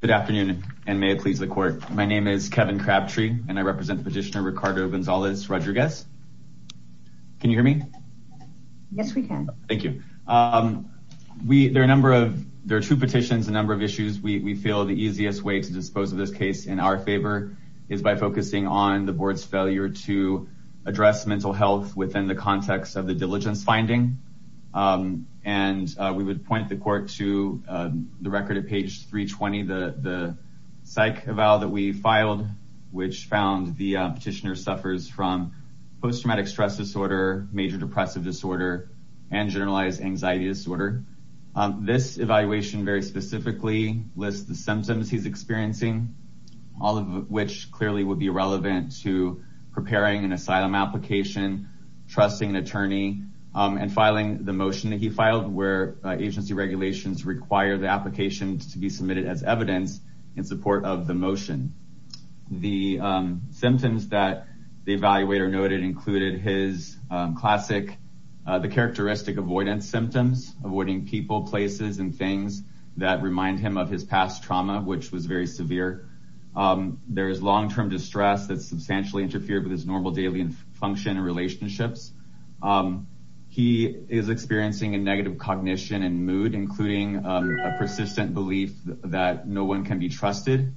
Good afternoon and may it please the court. My name is Kevin Crabtree and I represent petitioner Ricardo Gonzalez-Rodriguez. Can you hear me? Yes we can. Thank you. There are two petitions, a number of issues. We feel the easiest way to dispose of this case in our favor is by focusing on the board's failure to address mental health within the context of the diligence finding, and we would point the court to the record at page 320, the psych eval that we filed, which found the petitioner suffers from post-traumatic stress disorder, major depressive disorder, and generalized anxiety disorder. This evaluation very specifically lists the symptoms he's experiencing, all of which clearly would be relevant to preparing an asylum application, trusting an and filing the motion that he filed where agency regulations require the application to be submitted as evidence in support of the motion. The symptoms that the evaluator noted included his classic, the characteristic avoidance symptoms, avoiding people, places, and things that remind him of his past trauma, which was very severe. There is long-term distress that substantially interfered with his normal daily function and relationships. He is experiencing a negative cognition and mood, including a persistent belief that no one can be trusted.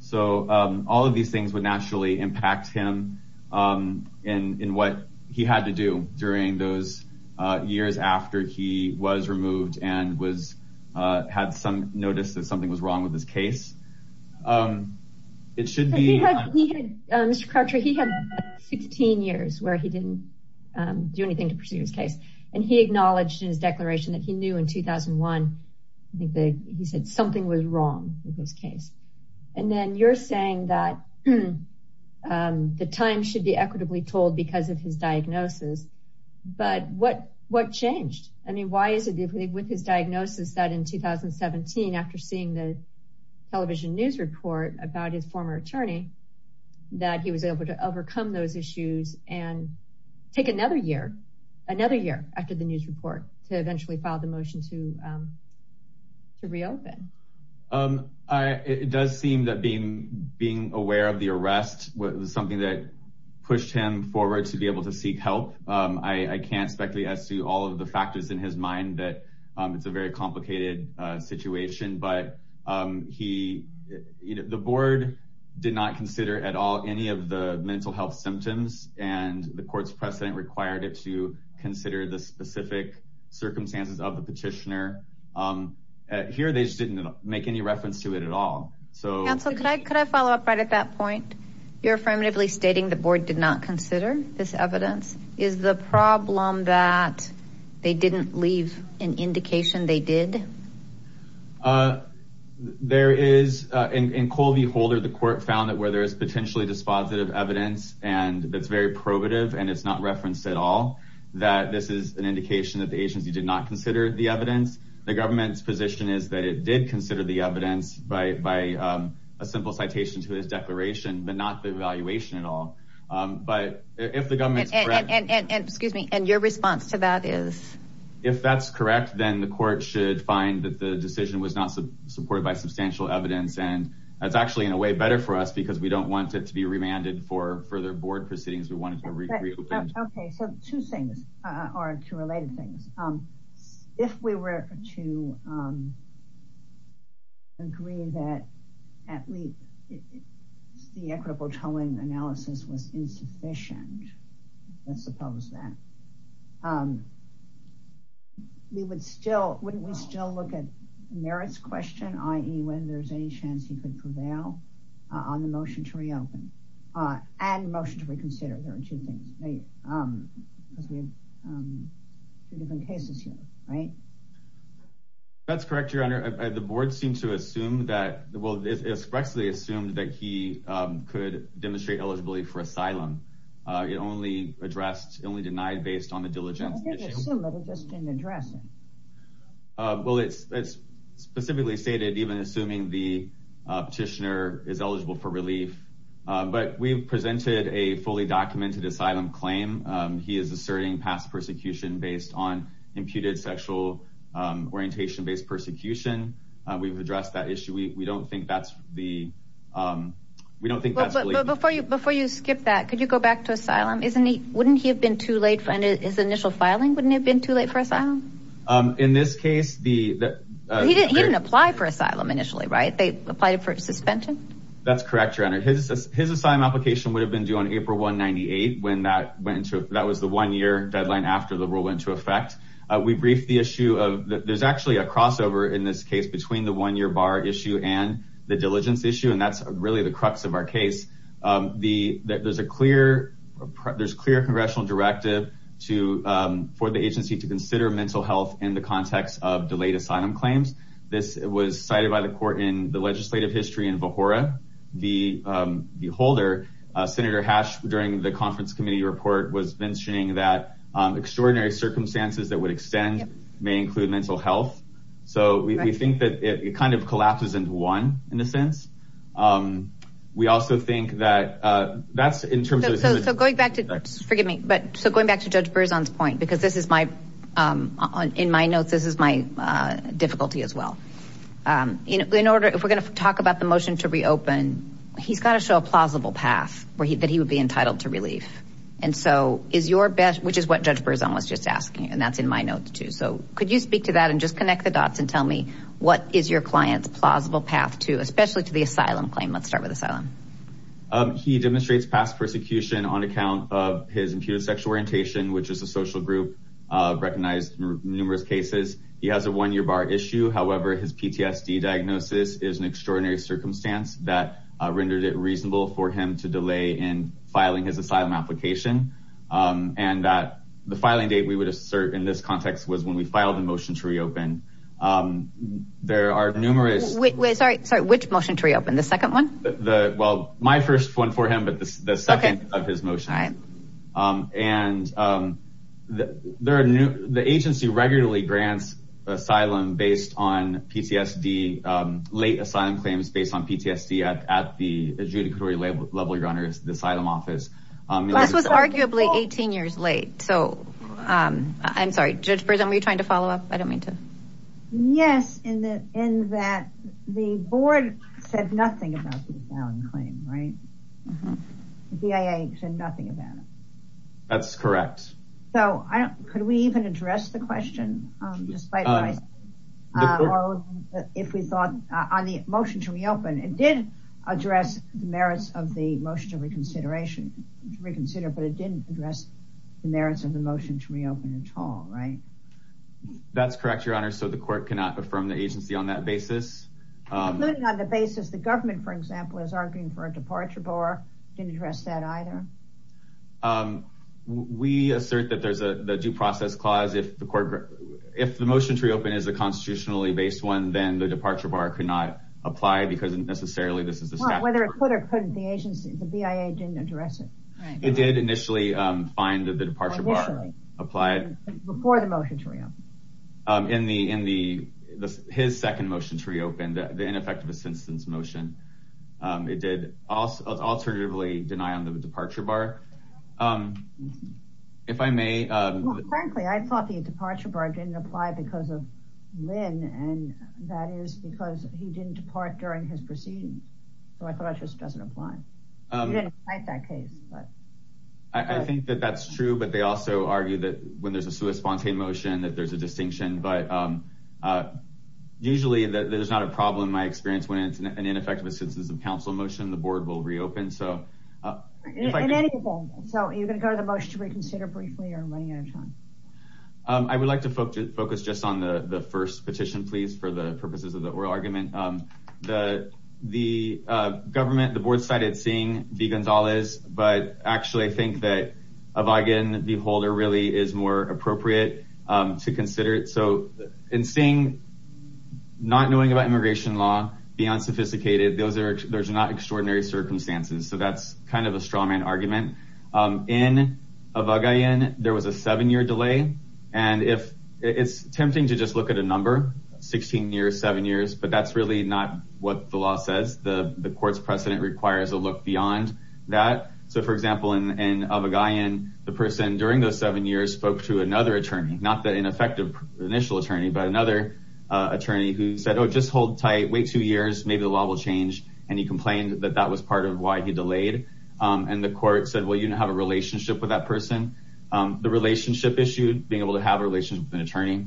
So all of these things would naturally impact him in what he had to do during those years after he was removed and had some that something was wrong with his case. It should be, he had 16 years where he didn't do anything to pursue his case, and he acknowledged in his declaration that he knew in 2001, I think that he said something was wrong with his case. And then you're saying that the time should be equitably told because of his diagnosis, but what changed? I mean, why is it with his diagnosis that in 2017, after seeing the television news report about his former attorney, that he was able to overcome those issues and take another year, another year after the news report to eventually file the motion to reopen? It does seem that being aware of the arrest was something that pushed him forward to be able to seek help. I can't speculate as to all of the factors in his mind that it's a very complicated situation, but the board did not consider at all any of the mental health symptoms, and the court's precedent required it to consider the specific circumstances of the petitioner. Here, they just didn't make any reference to it at all. Counsel, could I follow up right at that point? You're affirmatively stating the board did not consider this evidence. Is the problem that they didn't leave an indication they did? There is, in Colby Holder, the court found that where there is potentially dispositive evidence, and that's very probative, and it's not referenced at all, that this is an indication that the agency did not consider the evidence. The government's position is that it did consider the evidence by a simple citation to his and your response to that is? If that's correct, then the court should find that the decision was not supported by substantial evidence, and that's actually in a way better for us because we don't want it to be remanded for further board proceedings. We want it to be reopened. Okay, so two things, or two related things. If we were to agree that at least the equitable towing analysis was that, we would still, wouldn't we still look at Merritt's question, i.e. when there's any chance he could prevail on the motion to reopen and motion to reconsider? There are two things because we have two different cases here, right? That's correct, Your Honor. The board seemed to assume that, well, it expressly assumed that he could demonstrate eligibility for asylum. It only addressed, it only denied based on the diligence issue. Well, it's specifically stated even assuming the petitioner is eligible for relief, but we've presented a fully documented asylum claim. He is asserting past persecution based on imputed sexual orientation based persecution. We've addressed that issue. We don't think that's the, we don't think that's going to go back to asylum. Isn't he, wouldn't he have been too late for his initial filing? Wouldn't it have been too late for asylum? In this case, the, he didn't, he didn't apply for asylum initially, right? They applied it for suspension. That's correct, Your Honor. His, his asylum application would have been due on April 198 when that went into, that was the one year deadline after the rule went into effect. We briefed the issue of, there's actually a crossover in this case between the one year bar issue and the diligence issue. And that's really the crux of our case. The, there's a clear, there's clear congressional directive to, for the agency to consider mental health in the context of delayed asylum claims. This was cited by the court in the legislative history in Vahoura. The, the holder, Senator Hash, during the conference committee report was mentioning that extraordinary circumstances that would extend may include mental health. So we think that it kind of collapses into one, in a sense. We also think that, that's in terms of... So, so going back to, forgive me, but, so going back to Judge Berzon's point, because this is my, in my notes, this is my difficulty as well. In order, if we're gonna talk about the motion to reopen, he's got to show a plausible path where he, that he would be entitled to relief. And so, is your best, which is what Judge Berzon was just asking, and that's in my notes too. So could you speak to that and just connect the dots and tell me what is your client's plausible path to, especially to the asylum claim? Let's start with asylum. He demonstrates past persecution on account of his imputed sexual orientation, which is a social group, recognized in numerous cases. He has a one-year bar issue. However, his PTSD diagnosis is an extraordinary circumstance that rendered it reasonable for him to delay in filing his asylum application, and that the filing date we would assert in this context was when we filed the motion to reopen. Sorry, which motion to reopen? The second one? Well, my first one for him, but the second of his motions. And there are new, the agency regularly grants asylum based on PTSD, late asylum claims based on PTSD at the adjudicatory level, your honor, the asylum office. This was arguably 18 years late. So I'm sorry, Judge Berzon, were you trying to follow up? I don't know. The board said nothing about the asylum claim, right? The BIA said nothing about it. That's correct. So could we even address the question, despite what I said? If we thought on the motion to reopen, it did address the merits of the motion to reconsider, but it didn't address the merits of the motion to reopen at all, right? That's correct, your honor. So the court cannot affirm the agency on that basis, the government, for example, is arguing for a departure bar, didn't address that either. We assert that there's a due process clause, if the court, if the motion to reopen is a constitutionally based one, then the departure bar could not apply because necessarily this is the statute. Well, whether it could or couldn't, the agency, the BIA didn't address it. It did initially find that the departure bar applied. Before the motion to reopen. In the, in the, his second motion to reopen, the ineffective assistance motion, it did also alternatively deny on the departure bar. If I may. Frankly, I thought the departure bar didn't apply because of Lynn. And that is because he didn't depart during his proceedings. So I thought it just doesn't apply. He didn't fight that case, but. I think that that's true, but they also argue that when there's a sui spontane motion, that there's a distinction, but usually that there's not a problem. In my experience, when it's an ineffective assistance of counsel motion, the board will reopen. So. So you're going to go to the motion to reconsider briefly or running out of time. I would like to focus, focus just on the first petition, please, for the purposes of the oral argument. The, the government, the board cited seeing the Gonzales, but actually I think that Avogadro, the holder really is more appropriate to consider it. So in seeing, not knowing about immigration law, beyond sophisticated, those are, there's not extraordinary circumstances. So that's kind of a straw man argument. In Avogadro, there was a seven year delay. And if it's tempting to just look at a number 16 years, seven years, but that's really not what the law says. The, the court's precedent requires a look beyond that. So for example, in, in Avogadro, the person during those seven years spoke to another attorney, not that ineffective initial attorney, but another attorney who said, Oh, just hold tight, wait two years, maybe the law will change. And he complained that that was part of why he delayed. And the court said, well, you didn't have a relationship with that person. The relationship issued, being able to have a relationship with an attorney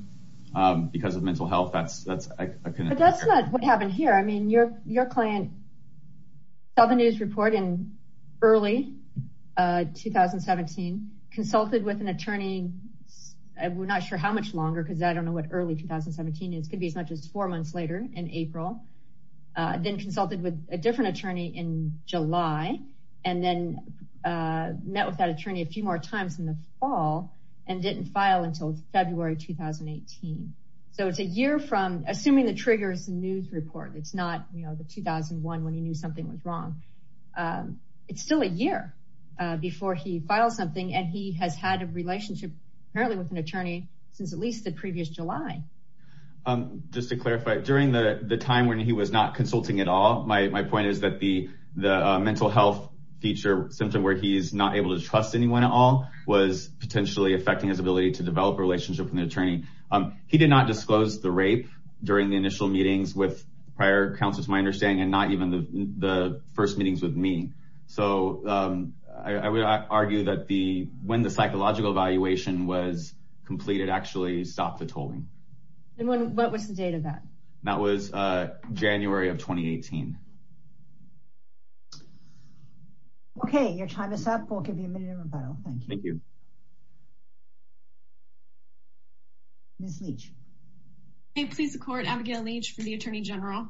because of mental health. That's, that's, I couldn't, but that's not what happened here. I mean, your, your client. So the news report in early 2017 consulted with an attorney. I'm not sure how much longer, cause I don't know what early 2017 is. It could be as much as four months later in April. Then consulted with a different attorney in July and then met with that attorney a few more times in the fall and didn't file until February, 2018. So it's a year from assuming the triggers and report. It's not, you know, the 2001 when he knew something was wrong. It's still a year before he filed something. And he has had a relationship apparently with an attorney since at least the previous July. Just to clarify during the time when he was not consulting at all, my point is that the, the mental health feature symptom where he's not able to trust anyone at all was potentially affecting his ability to develop a relationship with an attorney. He did not disclose the rape during the initial meetings with prior counselors, my understanding, and not even the first meetings with me. So I would argue that the, when the psychological evaluation was completed, actually stopped the tolling. And when, what was the date of that? That was January of 2018. Okay. Your time is up. We'll give you a minute to rebuttal. Thank you. Ms. Leach. Hey, please support Abigail Leach for the attorney general.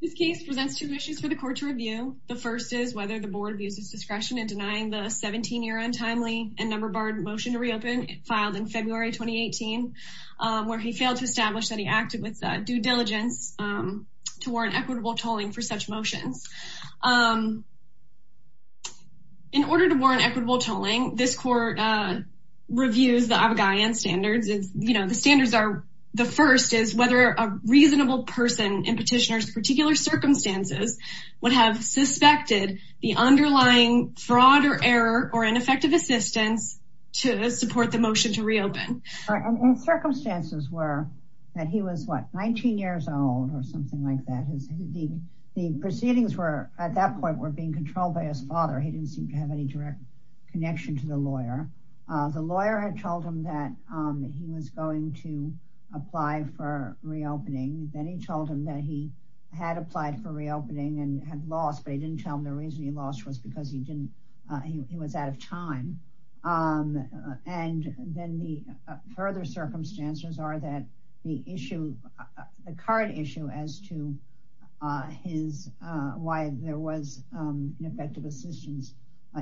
This case presents two issues for the court to review. The first is whether the board abuses discretion in denying the 17-year untimely and number barred motion to reopen filed in February 2018, where he failed to establish that he acted with due diligence to warrant equitable tolling for such motions. In order to The standards are, the first is whether a reasonable person in petitioner's particular circumstances would have suspected the underlying fraud or error or ineffective assistance to support the motion to reopen. Circumstances were that he was, what, 19 years old or something like that. The proceedings were, at that point, were being controlled by his father. He didn't seem to have any direct connection to the lawyer. The lawyer had told him that he was going to apply for reopening. Then he told him that he had applied for reopening and had lost, but he didn't tell him the reason he lost was because he didn't, he was out of time. And then the further circumstances are that the issue, the current issue as to his, why there was ineffective assistance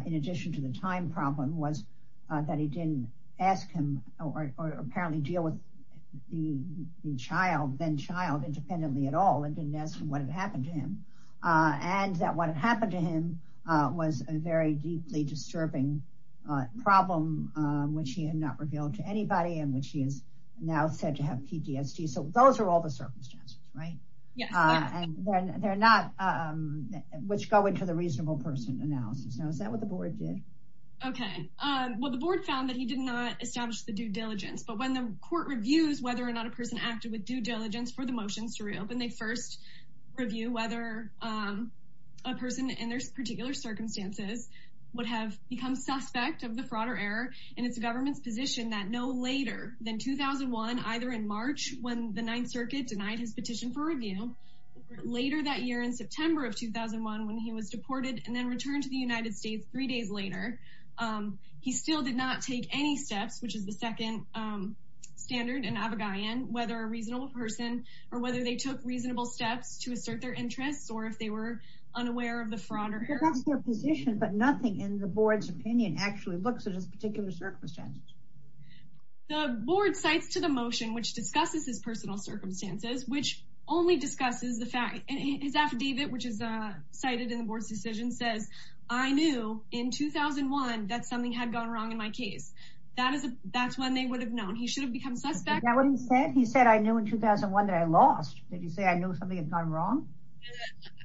in addition to the time problem was that he didn't ask him or apparently deal with the child, then child independently at all. And didn't ask him what had happened to him. And that what had happened to him was a very deeply disturbing problem, which he had not revealed to anybody and which he is now said to have PTSD. So those are all the circumstances, right? And they're not which go into the reasonable person analysis. Now, is that what the board did? Okay. Well, the board found that he did not establish the due diligence, but when the court reviews, whether or not a person acted with due diligence for the motions to reopen, they first review whether a person in their particular circumstances would have become suspect of the fraud or error. And it's the government's position that no later than 2001, either in March, when the ninth later that year in September of 2001, when he was deported and then returned to the United States three days later. He still did not take any steps, which is the second standard and Abagayan, whether a reasonable person or whether they took reasonable steps to assert their interests, or if they were unaware of the fraud or position, but nothing in the board's opinion actually looks at his particular circumstances. The board cites to the motion, which discusses his personal circumstances, which only discusses the fact and his affidavit, which is cited in the board's decision says, I knew in 2001, that something had gone wrong in my case, that is, that's when they would have known he should have become suspect. He said, I knew in 2001 that I lost. Did he say I knew something had gone wrong?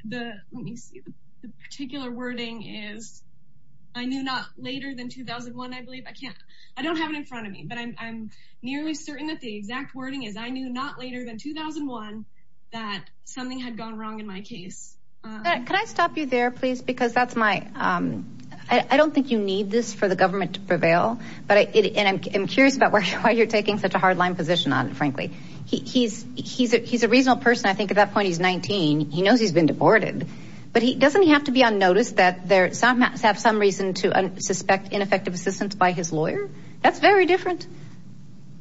The particular wording is, I knew not later than 2001. I believe I can't, I don't have it in front of me. But I'm nearly certain that the exact wording is I knew not later than 2001, that something had gone wrong in my case. Can I stop you there, please? Because that's my, I don't think you need this for the government to prevail. But I am curious about why you're taking such a hard line position on it, frankly, he's, he's, he's a reasonable person. I think at that point, he's 19. He knows he's been deported. But he doesn't have to be unnoticed that there's some have some reason to suspect ineffective assistance by his lawyer. That's very different.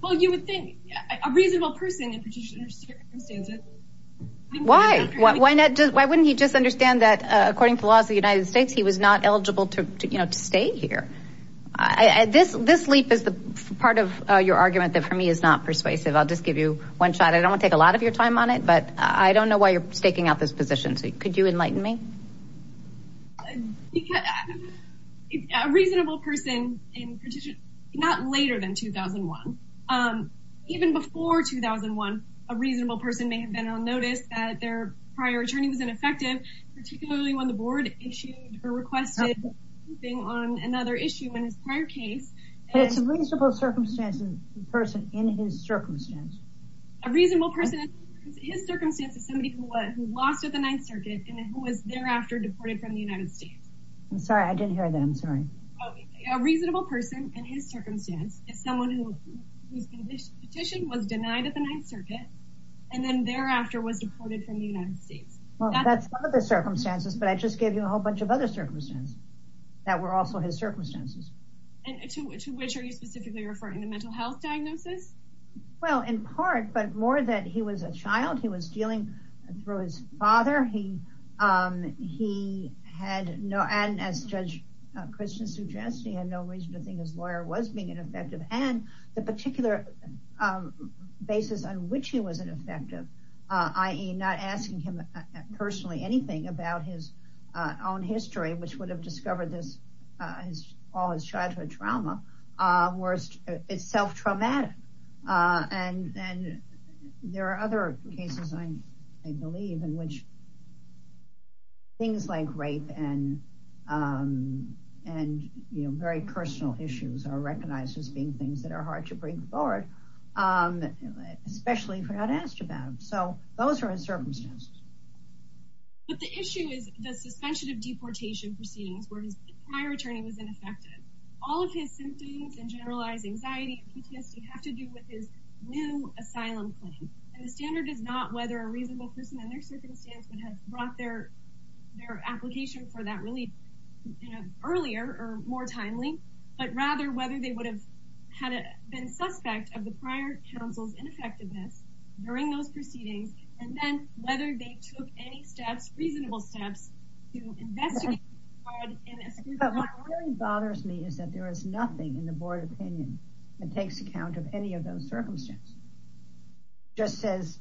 Well, you would think a reasonable person in particular circumstances. Why? Why not? Why wouldn't he just understand that, according to the laws of the United States, he was not eligible to, you know, to stay here. I this this leap is the part of your argument that for me is not persuasive. I'll just give you one shot. I don't take a lot of your time on it. But I don't know why you're staking out this position. So could you enlighten me? Because a reasonable person in particular, not later than 2001, even before 2001, a reasonable person may have been on notice that their prior attorney was ineffective, particularly when the board issued or requested being on another issue in his prior case. It's reasonable circumstances person in his circumstance, a reasonable person, his circumstances, somebody who was lost at the Ninth Circuit. I'm sorry, I didn't hear them. Sorry. A reasonable person in his circumstance is someone who whose petition was denied at the Ninth Circuit and then thereafter was deported from the United States. Well, that's the circumstances. But I just gave you a whole bunch of other circumstances that were also his circumstances. And to which are you specifically referring to mental health diagnosis? Well, in part, but more that he was a child. He was dealing through his father. He he had no. And as Judge Christian suggested, he had no reason to think his lawyer was being ineffective. And the particular basis on which he was ineffective, i.e. not asking him personally anything about his own history, which would have discovered this as all his childhood trauma was it's self-traumatic. And then there are other cases, I believe, which. Things like rape and and very personal issues are recognized as being things that are hard to bring forward, especially if you're not asked about. So those are his circumstances. But the issue is the suspension of deportation proceedings where his prior attorney was ineffective. All of his symptoms and generalized anxiety and PTSD have to do with his new asylum claim. And the standard is not whether a reasonable person in their circumstance would have brought their their application for that relief earlier or more timely, but rather whether they would have had been suspect of the prior counsel's ineffectiveness during those proceedings and then whether they took any steps, reasonable steps to investigate. But what really bothers me is that there is nothing in the board opinion that takes account of any of those circumstances. Just says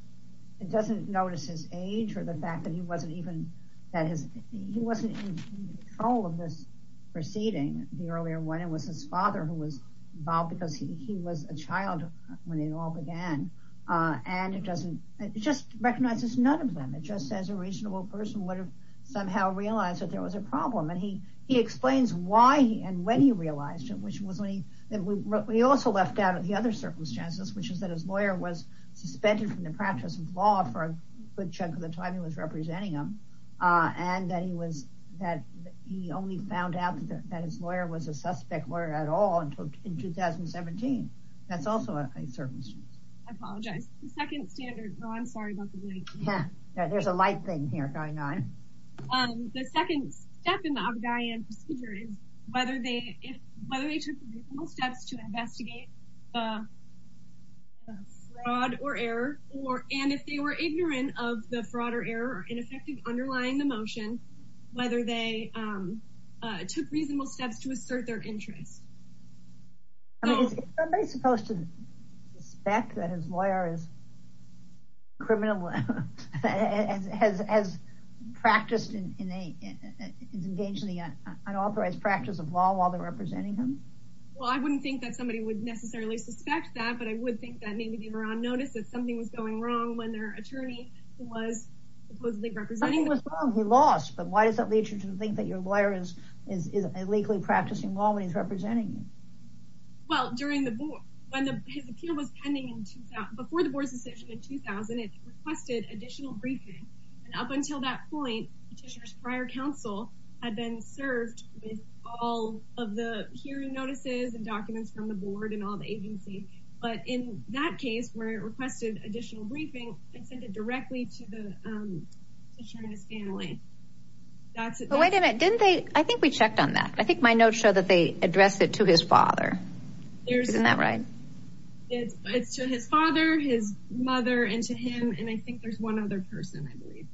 it doesn't notice his age or the fact that he wasn't even that he wasn't in control of this proceeding. The earlier one, it was his father who was involved because he was a child when it all began. And it doesn't just recognize this. None of them. It just says a reasonable person would have somehow realized that there was a problem. And he he explains why and when he realized it, which was only that we also left out of the other circumstances, which is that his lawyer was suspended from the practice of law for a good chunk of the time he was representing him and that he was that he only found out that his lawyer was a suspect lawyer at all until in 2017. That's also a circumstance. I apologize. The second standard. Oh, I'm sorry about the light. There's a light thing here going on. The second step in the obvious procedure is whether they whether they were ignorant of the fraud or error or ineffective underlying the motion, whether they took reasonable steps to assert their interest. I mean, is somebody supposed to suspect that his lawyer is criminal has has practiced in a is engaged in the unauthorized practice of law while they're representing him? Well, I wouldn't think that somebody would necessarily suspect that, but I would think that maybe they were on who was supposedly representing. He was wrong. He lost. But why does that lead you to think that your lawyer is is illegally practicing law when he's representing you? Well, during the war, when his appeal was pending before the board's decision in 2000, it requested additional briefing. And up until that point, Petitioner's prior counsel had been served with all of the hearing notices and documents from the board and all the agency. But in that case, where it requested additional briefing, I sent it directly to the Petitioner's family. That's it. Wait a minute. Didn't they? I think we checked on that. I think my notes show that they addressed it to his father. Isn't that right? It's to his father, his mother and to him. And I think there's one other person, I believe.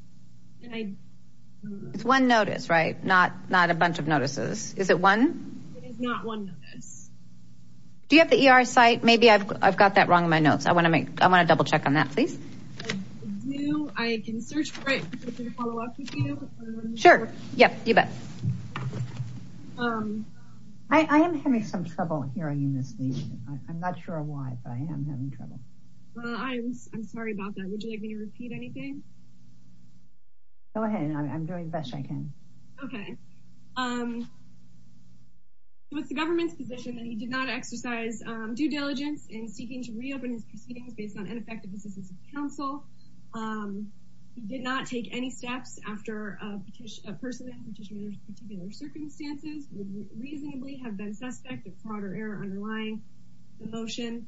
It's one notice, right? Not not a bunch of notices. Is it one? It is not one notice. Do you have the ER site? Maybe I've I've got that wrong in my notes. I want to make I want to double check on that, please. I do. I can search for it. Sure. Yep. You bet. I am having some trouble hearing this. I'm not sure why, but I am having trouble. I'm sorry about that. Would you like me to repeat anything? Go ahead. I'm doing the best I can. Okay. So it's the government's position that he did not exercise due diligence in seeking to reopen his proceedings based on ineffective assistance of counsel. He did not take any steps after a person in Petitioner's particular circumstances would reasonably have been suspect of fraud or error underlying the motion.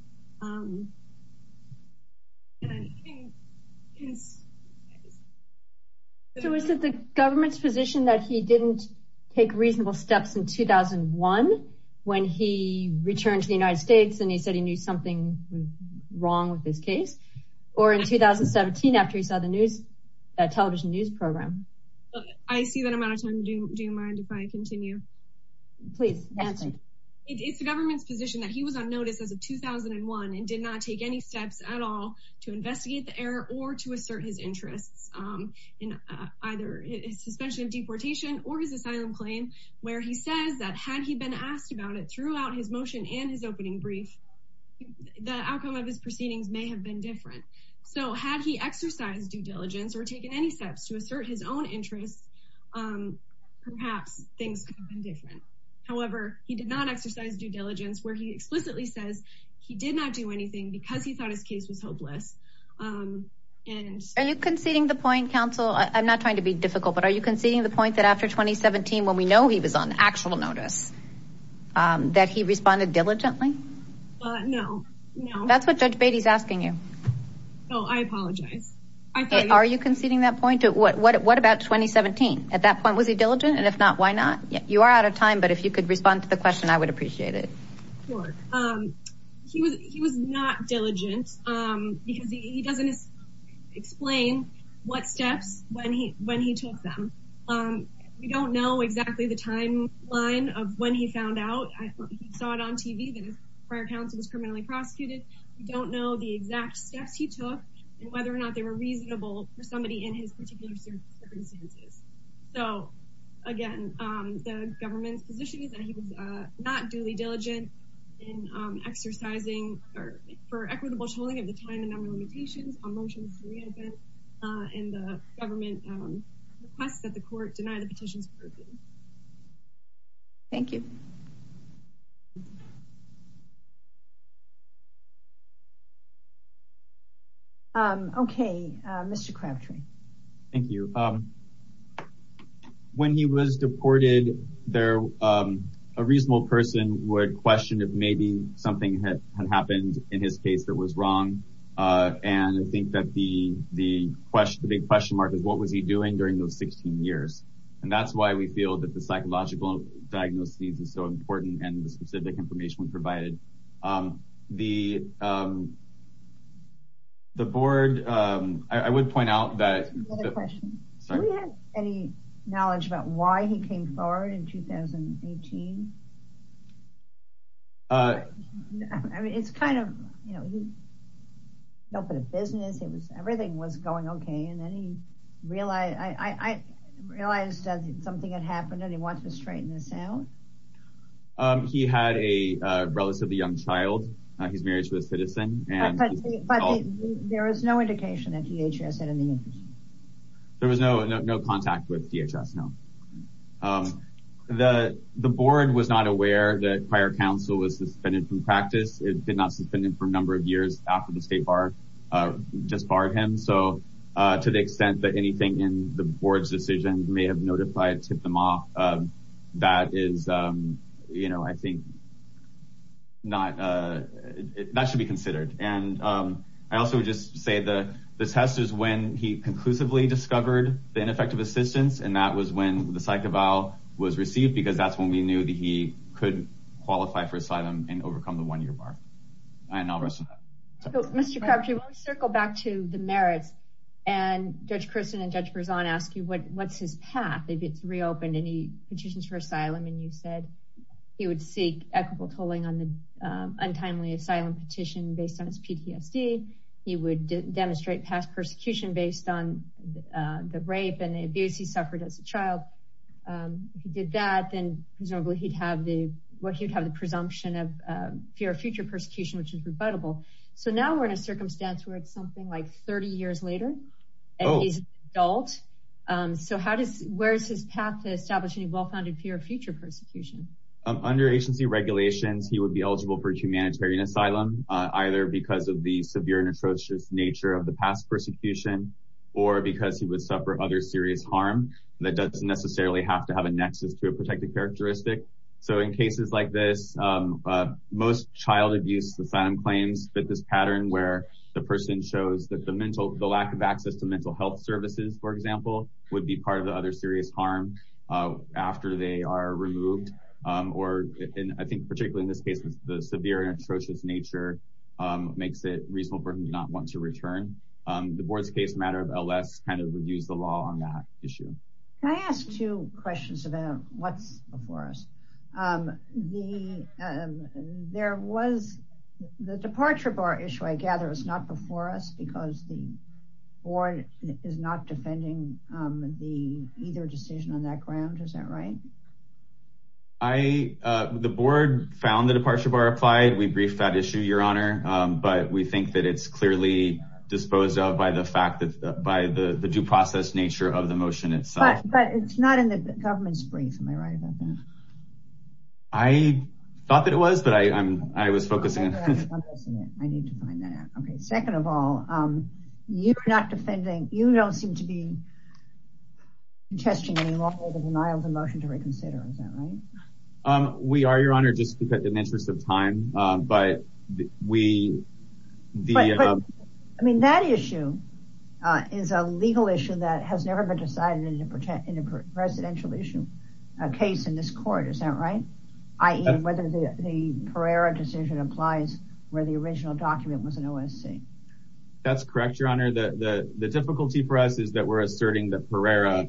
So is it the government's position that he didn't take reasonable steps in 2001 when he returned to the United States and he said he knew something wrong with his case or in 2017 after he saw the news television news program? I see that I'm out of time. Do you mind if I continue? Please. It's the government's position that he was on notice as of 2001 and did not take any steps at all to investigate the error or to assert his interests in either his suspension of deportation or his asylum claim where he says that had he been asked about it throughout his motion and his opening brief, the outcome of his proceedings may have been different. So had he exercised due diligence or taken any steps to assert his own interests, perhaps things could have been different. However, he did not exercise due diligence where he explicitly says he did not do anything because he thought his case was hopeless. Are you conceding the point, counsel? I'm not trying to be difficult, but are you conceding the point that after 2017, when we know he was on actual notice, that he responded diligently? No, no. That's what Judge Beatty is asking you. No, I apologize. Are you conceding that point? What about 2017? At that point, was he diligent? And if not, why not? You are out of time, but if you could respond to the question, I would appreciate it. Sure. He was not diligent because he doesn't explain what steps when he took them. We don't know exactly the timeline of when he found out. He saw it on TV that his prior counsel was criminally prosecuted. We don't know the exact steps he took and whether or not they were reasonable for somebody in his particular circumstances. So again, the government's position is that he was not duly diligent in exercising, or for equitable tolling of the time and number limitations on motions to re-advent and the government requests that the court deny the petition's purview. Thank you. Okay, Mr. Crabtree. Thank you. When he was deported, a reasonable person would question if maybe something had happened in his case that was wrong. And I think that the big question mark is what was he doing during those 16 years? And that's why we feel that the psychological diagnosis is so important and the specific information we provided. The board, I would point out that- I have a question. Do we have any knowledge about why he came forward in 2018? I mean, it's kind of, you know, he opened a business, everything was going okay. And then he realized, I realized that something had happened and he wants to straighten this out. He had a relatively young child. He's married to a citizen. But there is no indication that DHS had any interest? There was no contact with DHS, no. The board was not aware that prior counsel was suspended from practice. It did not suspend him for a number of years after the state bar just barred him. So to the extent that anything in the board's decision may have notified, tipped him off, that is, you know, I think not, that should be considered. And I also just say the test is when he conclusively discovered the ineffective assistance. And that was when the psych eval was received because that's when we knew that he could qualify for asylum and overcome the one-year bar. And I'll rest on that. Mr. Crabtree, let me circle back to the merits and Judge Christin and Judge Berzon ask you, what's his path? Maybe it's reopened any petitions for asylum. And you said he would seek equitable tolling on the untimely asylum petition based on his PTSD. He would demonstrate past persecution based on the rape and the abuse he suffered as a child. If he did that, then presumably he'd have the, what he would have the presumption of fear of future persecution, which is rebuttable. So now we're in a circumstance where it's something like 30 years later and he's an adult. So how does, where's his path to establish any well-founded fear of future persecution? Under agency regulations, he would be eligible for humanitarian asylum, either because of the severe and atrocious nature of the past persecution, or because he would suffer other serious harm that doesn't necessarily have to have a nexus to a protected characteristic. So in cases like this, most child abuse asylum claims fit this that the mental, the lack of access to mental health services, for example, would be part of the other serious harm after they are removed. Or I think particularly in this case, the severe and atrocious nature makes it reasonable for him to not want to return. The board's case matter of LS kind of would use the law on that issue. Can I ask two questions about what's before us? The, there was the departure bar issue. I gather it's not before us because the board is not defending the either decision on that ground. Is that right? I, the board found the departure bar applied. We briefed that issue your honor, but we think that it's clearly disposed of by the fact that by the due process nature of the motion itself. But it's not in the government's brief. Am I right about that? I thought that it was, but I, I'm, I was focusing. I need to find that out. Okay. Second of all, you're not defending, you don't seem to be testing any longer the denial of the motion to reconsider. Is that right? Um, we are your honor, just because in the interest of time, but we, I mean, that issue is a legal issue that has never been decided in a presidential issue, a case in this court. Is that right? I, whether the Pereira decision applies where the original document was an OSC. That's correct. Your honor. The, the, the difficulty for us is that we're asserting that Pereira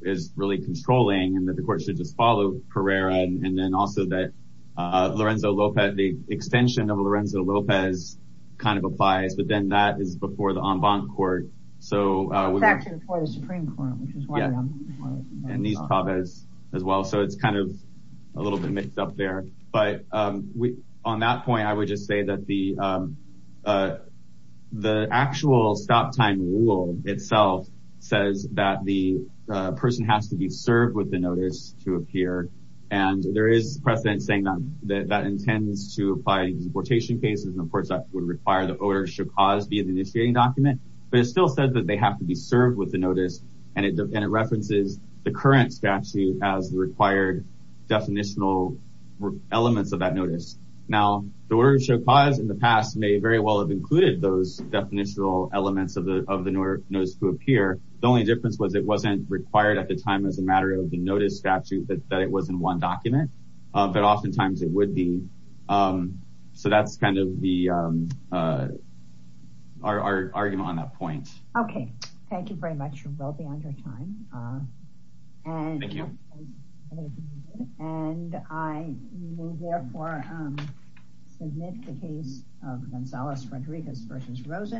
is really controlling and that the court should just follow Pereira. And then also that, uh, Lorenzo Lopez, the extension of Lorenzo Lopez kind of applies, but then that is before the en banc court. So, uh, and these Tavez as well. So it's kind of a little bit mixed up there, but, um, we, on that point, I would just say that the, um, uh, the actual stop time rule itself says that the person has to be served with the notice to appear. And there is precedent saying that that intends to apply to deportation cases. And of course that would require the order should be the initiating document, but it's still said that they have to be served with the notice. And it, and it references the current statute as the required definitional elements of that notice. Now the word show cause in the past may very well have included those definitional elements of the, of the notice to appear. The only difference was it wasn't required at the time as a matter of the notice statute that, that it wasn't one document, but oftentimes it would be. So that's kind of the, um, uh, our, our argument on that point. Okay. Thank you very much. We'll be on your time. And I will therefore, um, submit the case of Gonzalez Rodriguez versus Rosen.